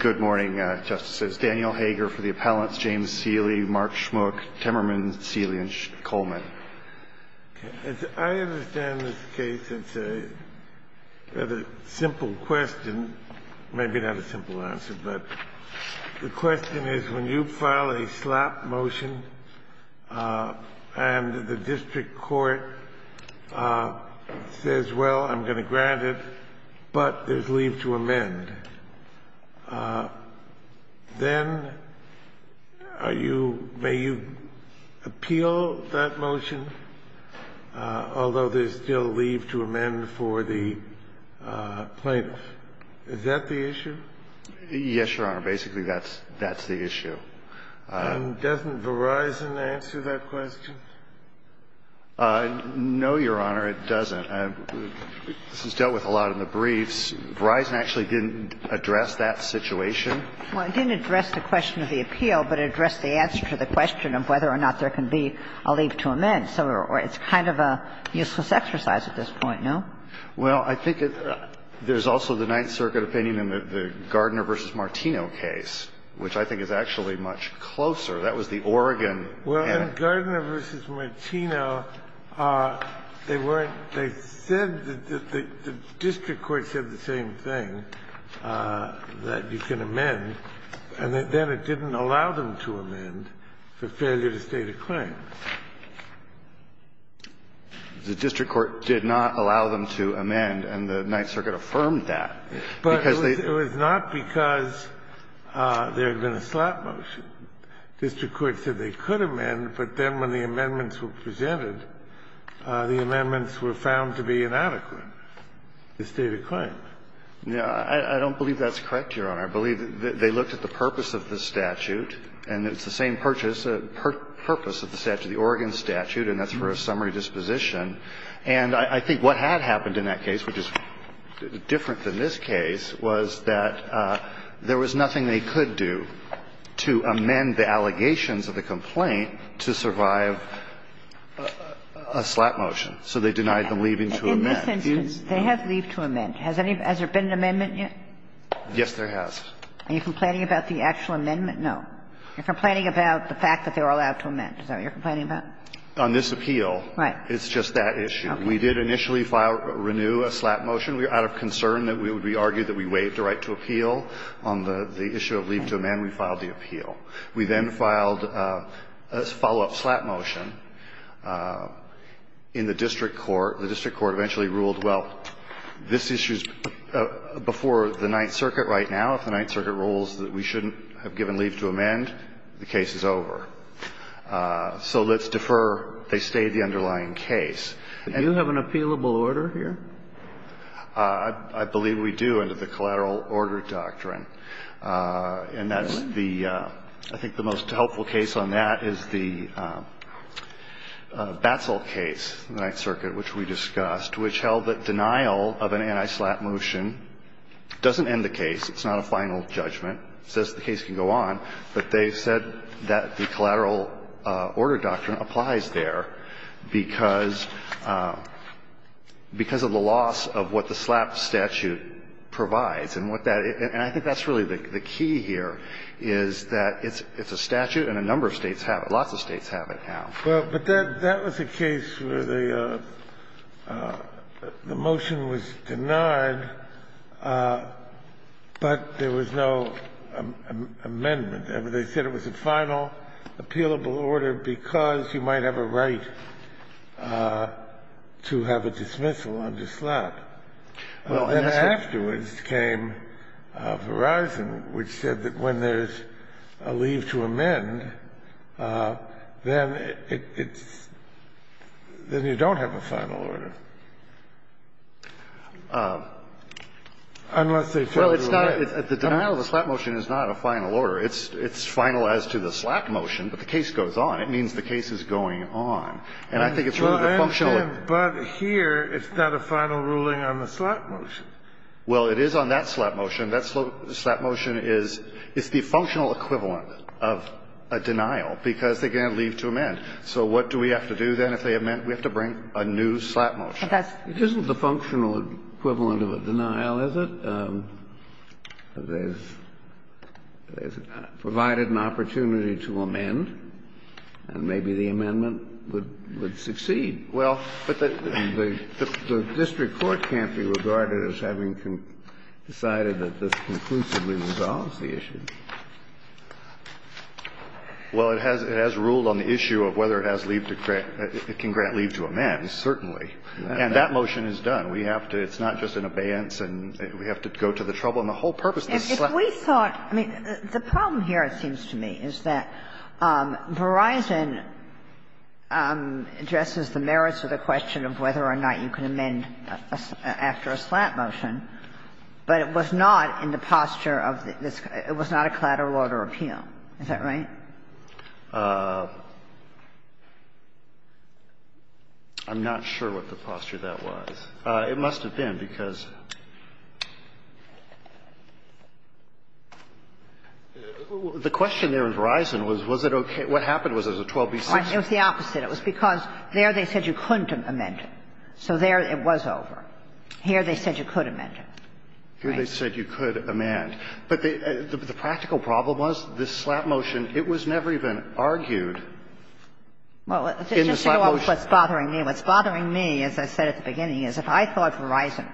Good morning, justices. Daniel Hager for the appellants, James Cilley, Mark Schmuck, Temmerman, Cilley, and Coleman. I understand this case, it's a rather simple question, maybe not a simple answer, but the question is when you file a slap motion and the district court says, well, I'm going to grant it, but there's leave to amend, then may you appeal that motion, although there's still leave to amend for the plaintiff. Is that the issue? Yes, Your Honor, basically that's the issue. And doesn't Verizon answer that question? No, Your Honor, it doesn't. This is dealt with a lot in the briefs. Verizon actually didn't address that situation. Well, it didn't address the question of the appeal, but it addressed the answer to the question of whether or not there can be a leave to amend. So it's kind of a useless exercise at this point, no? Well, I think there's also the Ninth Circuit opinion in the Gardner v. Martino case, which I think is actually much closer. That was the Oregon. Well, in Gardner v. Martino, they weren't they said that the district court said the same thing, that you can amend. And then it didn't allow them to amend for failure to state a claim. The district court did not allow them to amend, and the Ninth Circuit affirmed that. But it was not because there had been a slap motion. The district court said they could amend, but then when the amendments were presented, the amendments were found to be inadequate to state a claim. I don't believe that's correct, Your Honor. I believe that they looked at the purpose of the statute, and it's the same purpose of the statute, the Oregon statute, and that's for a summary disposition. And I think what had happened in that case, which is different than this case, was that there was nothing they could do to amend the allegations of the complaint to survive a slap motion. So they denied them leaving to amend. In this instance, they have leave to amend. Has there been an amendment yet? Yes, there has. Are you complaining about the actual amendment? No. You're complaining about the fact that they were allowed to amend. Is that what you're complaining about? On this appeal. Right. It's just that issue. Okay. We did initially file or renew a slap motion out of concern that it would be argued that we waived the right to appeal on the issue of leave to amend. We filed the appeal. We then filed a follow-up slap motion in the district court. The district court eventually ruled, well, this issue is before the Ninth Circuit right now. If the Ninth Circuit rules that we shouldn't have given leave to amend, the case is over. So let's defer. They stayed the underlying case. Do you have an appealable order here? I believe we do under the collateral order doctrine. And that's the – I think the most helpful case on that is the Batsell case in the which held that denial of an anti-slap motion doesn't end the case. It's not a final judgment. It says the case can go on. But they said that the collateral order doctrine applies there because of the loss of what the slap statute provides. And what that – and I think that's really the key here, is that it's a statute and a number of states have it. Lots of states have it now. Well, but that was a case where the motion was denied, but there was no amendment. They said it was a final appealable order because you might have a right to have a dismissal on the slap. And afterwards came Verizon, which said that when there's a leave to amend, then you don't have a final order, unless they fail to amend. Well, it's not – the denial of a slap motion is not a final order. It's final as to the slap motion, but the case goes on. It means the case is going on. And I think it's sort of a functional order. But here, it's not a final ruling on the slap motion. Well, it is on that slap motion. That slap motion is – it's the functional equivalent of a denial because, again, there's a leave to amend. So what do we have to do, then, if they amend? We have to bring a new slap motion. But that's – It isn't the functional equivalent of a denial, is it? There's provided an opportunity to amend, and maybe the amendment would succeed. Well, but the district court can't be regarded as having decided that this conclusively resolves the issue. Well, it has ruled on the issue of whether it has leave to grant – it can grant leave to amend, certainly. And that motion is done. We have to – it's not just an abeyance, and we have to go to the trouble. And the whole purpose of the slap motion – If we thought – I mean, the problem here, it seems to me, is that Verizon addresses the merits of the question of whether or not you can amend after a slap motion, but it was not in the posture of this – it was not a collateral order appeal. Is that right? I'm not sure what the posture that was. It must have been, because the question there in Verizon was, was it okay? What happened was there was a 12b-6. It was the opposite. It was because there they said you couldn't amend it. So there it was over. Here they said you could amend it. Here they said you could amend. But the practical problem was this slap motion, it was never even argued in the slap motion. Well, just to go off what's bothering me, what's bothering me, as I said at the beginning, is if I thought Verizon,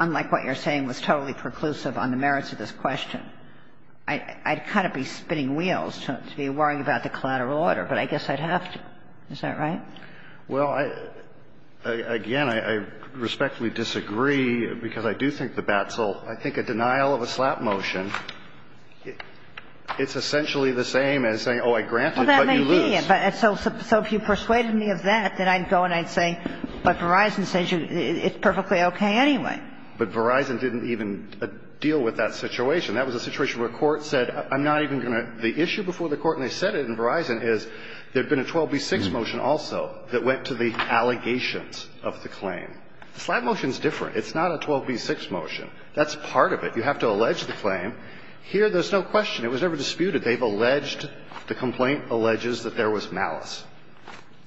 unlike what you're saying, was totally preclusive on the merits of this question, I'd kind of be spinning wheels to be worrying about the collateral order. But I guess I'd have to. Is that right? Well, again, I respectfully disagree, because I do think the BATSL, I think a denial of a slap motion, it's essentially the same as saying, oh, I grant it, but you lose. Well, that may be it. So if you persuaded me of that, then I'd go and I'd say, but Verizon says it's perfectly okay anyway. But Verizon didn't even deal with that situation. That was a situation where court said, I'm not even going to – the issue before the court, and they said it in Verizon, is there had been a 12b-6 motion also that went to the allegations of the claim. The slap motion is different. It's not a 12b-6 motion. That's part of it. You have to allege the claim. Here, there's no question. It was never disputed. They've alleged, the complaint alleges that there was malice.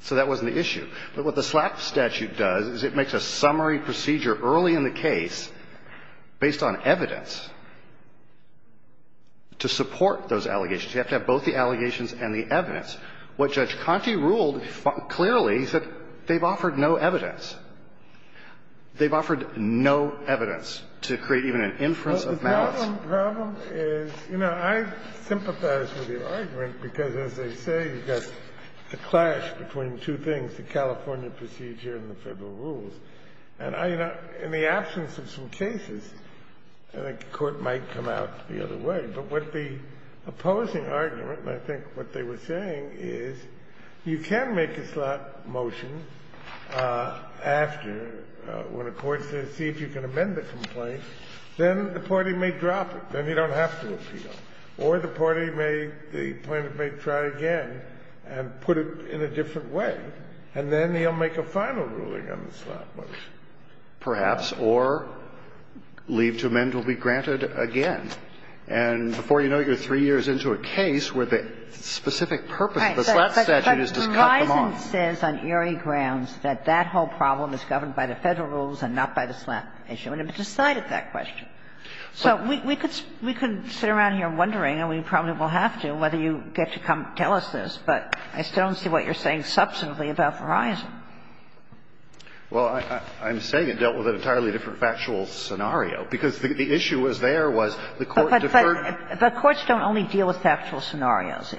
So that wasn't the issue. But what the slap statute does is it makes a summary procedure early in the case, based on evidence, to support those allegations. You have to have both the allegations and the evidence. What Judge Conte ruled clearly is that they've offered no evidence. They've offered no evidence to create even an inference of malice. Well, the problem is, you know, I sympathize with your argument, because as they say, you've got the clash between two things, the California procedure and the Federal rules. And I, you know, in the absence of some cases, I think the Court might come out the other way. But what the opposing argument, and I think what they were saying, is you can make a slap motion after, when a court says, see if you can amend the complaint, then the party may drop it. Then you don't have to appeal. Or the party may, the plaintiff may try again and put it in a different way. And then he'll make a final ruling on the slap motion. And then, you know, it's a matter of, you know, you can make a slap motion after the complaint, perhaps, or leave to amend will be granted again. And before you know it, you're three years into a case where the specific purpose of the slap statute is to cut them off. But Verizon says on eerie grounds that that whole problem is governed by the Federal rules and not by the slap issue. And it decided that question. So we could sit around here wondering, and we probably will have to, whether you get to come tell us this, but I still don't see what you're saying substantively about Verizon. Well, I'm saying it dealt with an entirely different factual scenario, because the issue was there was the court deferred. But courts don't only deal with factual scenarios.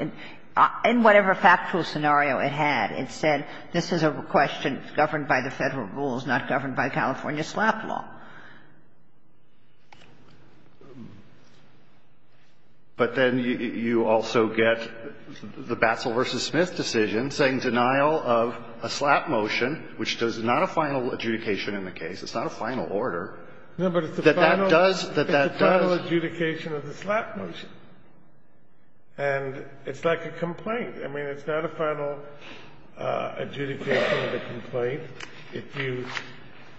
In whatever factual scenario it had, it said this is a question governed by the Federal rules, not governed by California slap law. But then you also get the Batzel v. Smith decision saying denial of a slap motion, which does not a final adjudication in the case. It's not a final order. That that does, that that does. It's a final adjudication of the slap motion. And it's like a complaint. I mean, it's not a final adjudication of a complaint. If you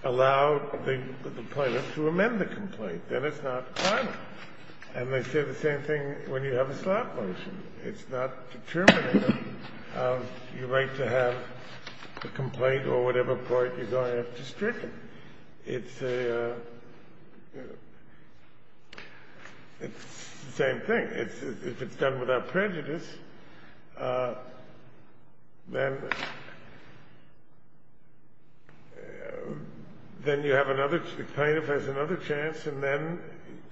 allow the plaintiff to amend the complaint, then it's not final. And they say the same thing when you have a slap motion. It's not determining how you're going to have a complaint or whatever court you're going to have to strip it. It's a, it's the same thing. If it's done without prejudice, then you have another, the plaintiff has another chance, and then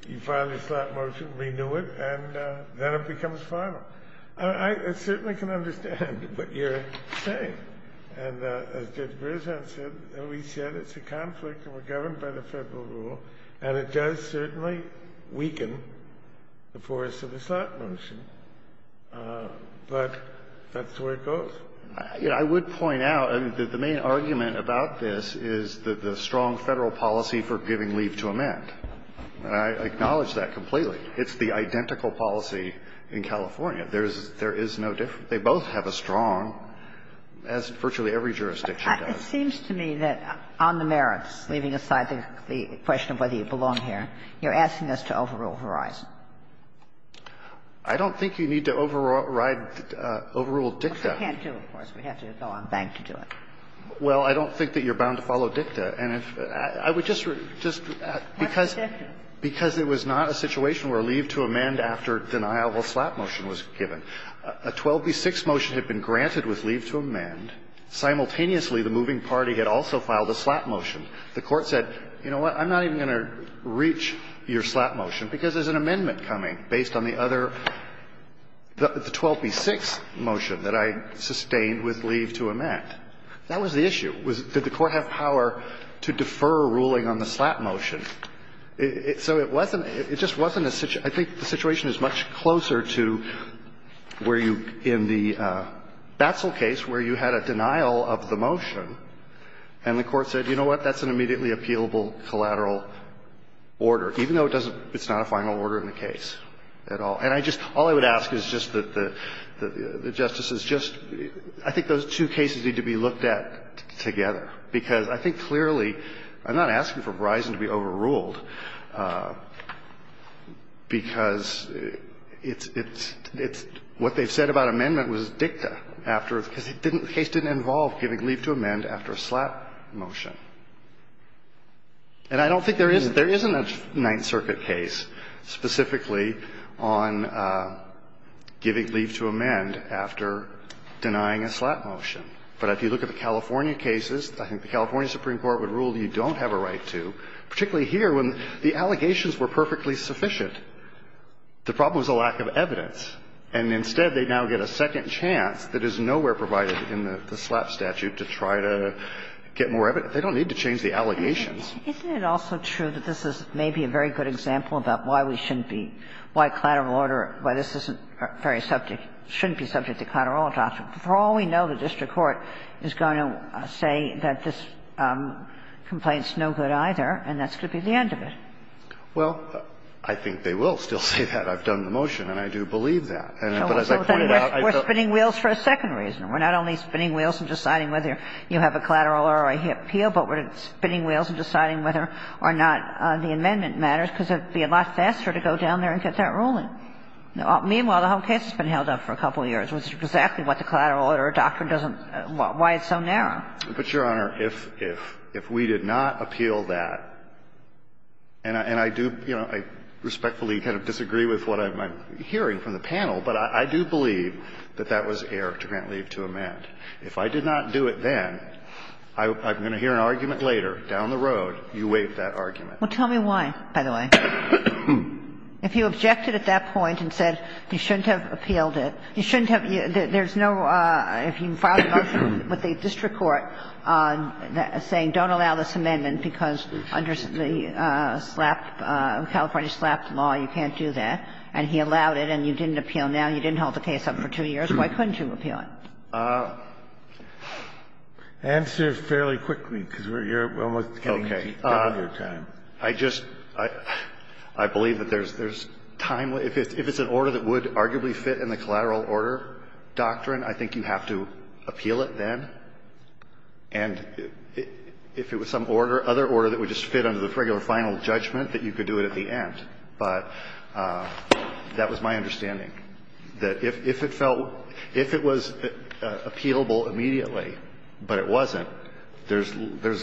you file your slap motion, renew it, and then it becomes final. I certainly can understand what you're saying. And as Judge Berzahn said, we said it's a conflict, and we're governed by the Federal rule, and it does certainly weaken the force of the slap motion. But that's where it goes. I would point out that the main argument about this is that the strong Federal policy for giving leave to amend. I acknowledge that completely. It's the identical policy in California. There is no difference. They both have a strong, as virtually every jurisdiction does. It seems to me that on the merits, leaving aside the question of whether you belong here, you're asking us to overrule Verizon. I don't think you need to override, overrule DICTA. But you can't do it, of course. We have to go on bank to do it. Well, I don't think that you're bound to follow DICTA. And I would just, just because, because it was not a situation where leave to amend after deniable slap motion was given. A 12b-6 motion had been granted with leave to amend. Simultaneously, the moving party had also filed a slap motion. The Court said, you know what, I'm not even going to reach your slap motion because there's an amendment coming based on the other, the 12b-6 motion that I sustained with leave to amend. That was the issue, was did the Court have power to defer ruling on the slap motion. So it wasn't, it just wasn't a, I think the situation is much closer to where you in the Batzel case, where you had a denial of the motion, and the Court said, you know what, that's an immediately appealable collateral order, even though it doesn't, it's not a final order in the case at all. And I just, all I would ask is just that the, the justices just, I think those two cases need to be looked at together, because I think clearly, I'm not asking for Verizon to be overruled, because it's, it's, it's, what they've said about amendment was dicta, after, because it didn't, the case didn't involve giving leave to amend after a slap motion. And I don't think there is, there isn't a Ninth Circuit case specifically on giving leave to amend after denying a slap motion. But if you look at the California cases, I think the California Supreme Court would have said, you know what, we don't have a right to, particularly here, when the allegations were perfectly sufficient, the problem is a lack of evidence. And instead, they now get a second chance that is nowhere provided in the slap statute to try to get more evidence. They don't need to change the allegations. Kagan. Kagan. Isn't it also true that this is maybe a very good example about why we shouldn't be, why collateral order, why this isn't very subject, shouldn't be subject to collateral doctrine? For all we know, the district court is going to say that this complaint's no good either, and that's going to be the end of it. Well, I think they will still say that. I've done the motion, and I do believe that. But as I pointed out, I thought we're spinning wheels for a second reason. We're not only spinning wheels and deciding whether you have a collateral order appeal, but we're spinning wheels and deciding whether or not the amendment matters, because it would be a lot faster to go down there and get that ruling. And I think that's a good example of why we shouldn't be, why this isn't very subject, shouldn't be subject to collateral order appeal. Meanwhile, the whole case has been held up for a couple of years, which is exactly what the collateral order doctrine doesn't, why it's so narrow. But, Your Honor, if we did not appeal that, and I do, you know, I respectfully kind of disagree with what I'm hearing from the panel, but I do believe that that was error to grant leave to amend. If I did not do it then, I'm going to hear an argument later down the road, you waive that argument. Well, tell me why, by the way. If you objected at that point and said you shouldn't have appealed it, you shouldn't have you – there's no – if you filed a motion with the district court saying don't allow this amendment because under the SLAP, California SLAP law, you can't do that, and he allowed it and you didn't appeal now, you didn't hold the case up for two years, why couldn't you appeal it? Answer fairly quickly, because you're almost getting to the end of your time. I just – I believe that there's timely – if it's an order that would arguably fit in the collateral order doctrine, I think you have to appeal it then. And if it was some order, other order that would just fit under the regular final judgment, that you could do it at the end. But that was my understanding, that if it felt – if it was appealable immediately but it wasn't, there's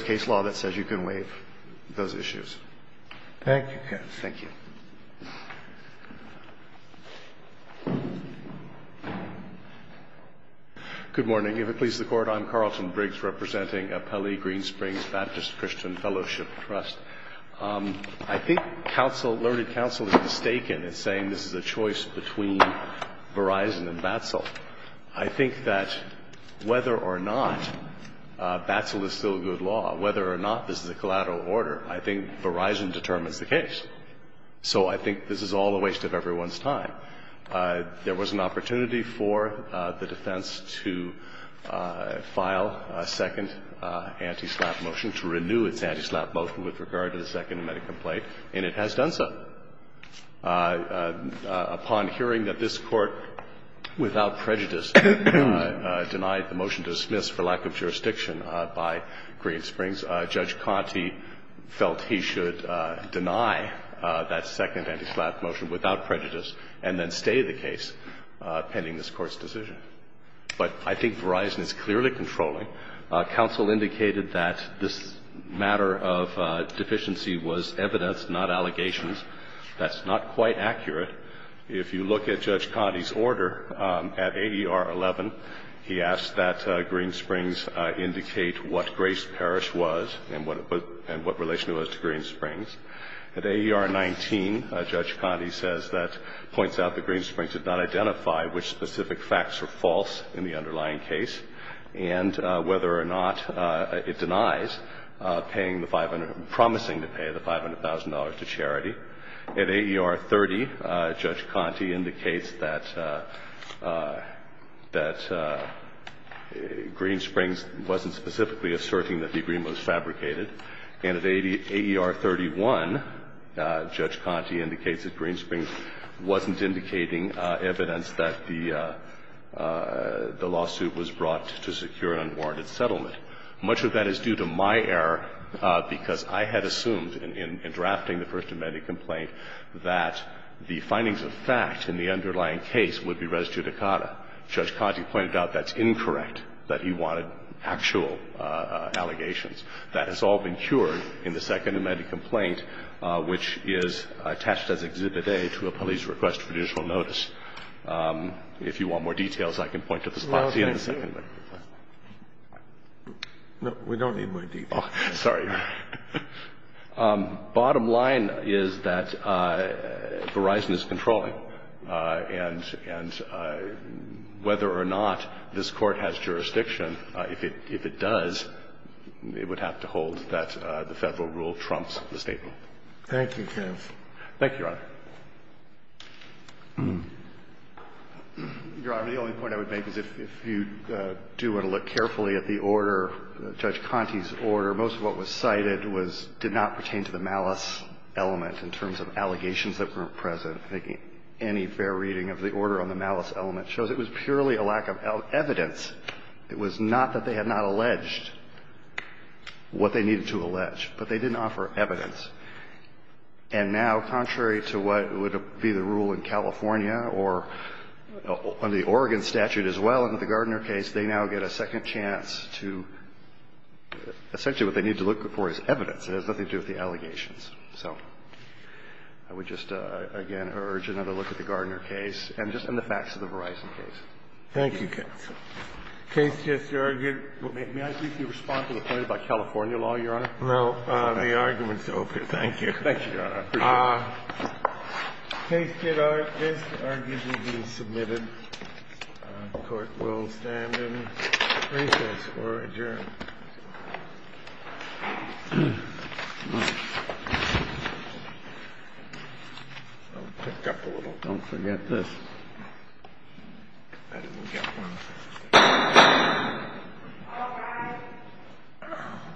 a case law that says you can waive those issues. Thank you, counsel. Thank you. Good morning. If it pleases the Court, I'm Carlton Briggs, representing Pele Green Springs Baptist Christian Fellowship Trust. I think counsel – learned counsel is mistaken in saying this is a choice between Verizon and BATSL. I think that whether or not BATSL is still a good law, whether or not this is a collateral order, I think Verizon determines the case. So I think this is all a waste of everyone's time. There was an opportunity for the defense to file a second anti-SLAP motion to renew its anti-SLAP motion with regard to the second medical complaint, and it has done so. Upon hearing that this Court, without prejudice, denied the motion to dismiss for lack of jurisdiction by Green Springs, Judge Conte felt he should deny that second anti-SLAP motion without prejudice and then stay the case pending this Court's decision. But I think Verizon is clearly controlling. Counsel indicated that this matter of deficiency was evidence, not allegations. That's not quite accurate. If you look at Judge Conte's order at AER 11, he asked that Green Springs indicate what Grace Parish was and what relation it was to Green Springs. At AER 19, Judge Conte says that – points out that Green Springs did not identify which specific facts are false in the underlying case. And whether or not it denies paying the 500 – promising to pay the $500,000 to charity. At AER 30, Judge Conte indicates that Green Springs wasn't specifically asserting that the agreement was fabricated. And at AER 31, Judge Conte indicates that Green Springs wasn't indicating evidence that the lawsuit was brought to secure unwarranted settlement. Much of that is due to my error because I had assumed in drafting the First Amendment complaint that the findings of fact in the underlying case would be res judicata. Judge Conte pointed out that's incorrect, that he wanted actual allegations. That has all been cured in the Second Amendment complaint, which is attached as Exhibit A to a police request for judicial notice. If you want more details, I can point to this policy in the Second Amendment. Sotomayor, no, we don't need more details. Oh, sorry. Bottom line is that Verizon is controlling. And whether or not this Court has jurisdiction, if it does, it would have to hold Thank you, counsel. Thank you, Your Honor. Your Honor, the only point I would make is if you do want to look carefully at the order, Judge Conte's order, most of what was cited was did not pertain to the malice element in terms of allegations that weren't present. I think any fair reading of the order on the malice element shows it was purely a lack of evidence. It was not that they had not alleged what they needed to allege, but they didn't offer evidence. And now, contrary to what would be the rule in California or on the Oregon statute as well in the Gardner case, they now get a second chance to essentially what they need to look for is evidence. It has nothing to do with the allegations. So I would just, again, urge another look at the Gardner case and just in the facts of the Verizon case. Thank you, counsel. Case, Justice O'Rourke, may I briefly respond to the point about California law, Your Honor? No. The argument's over. Thank you. Thank you, Your Honor. I appreciate it. Case, did this argument be submitted? The Court will stand in recess or adjourn. I'm picked up a little. Don't forget this. I didn't get one.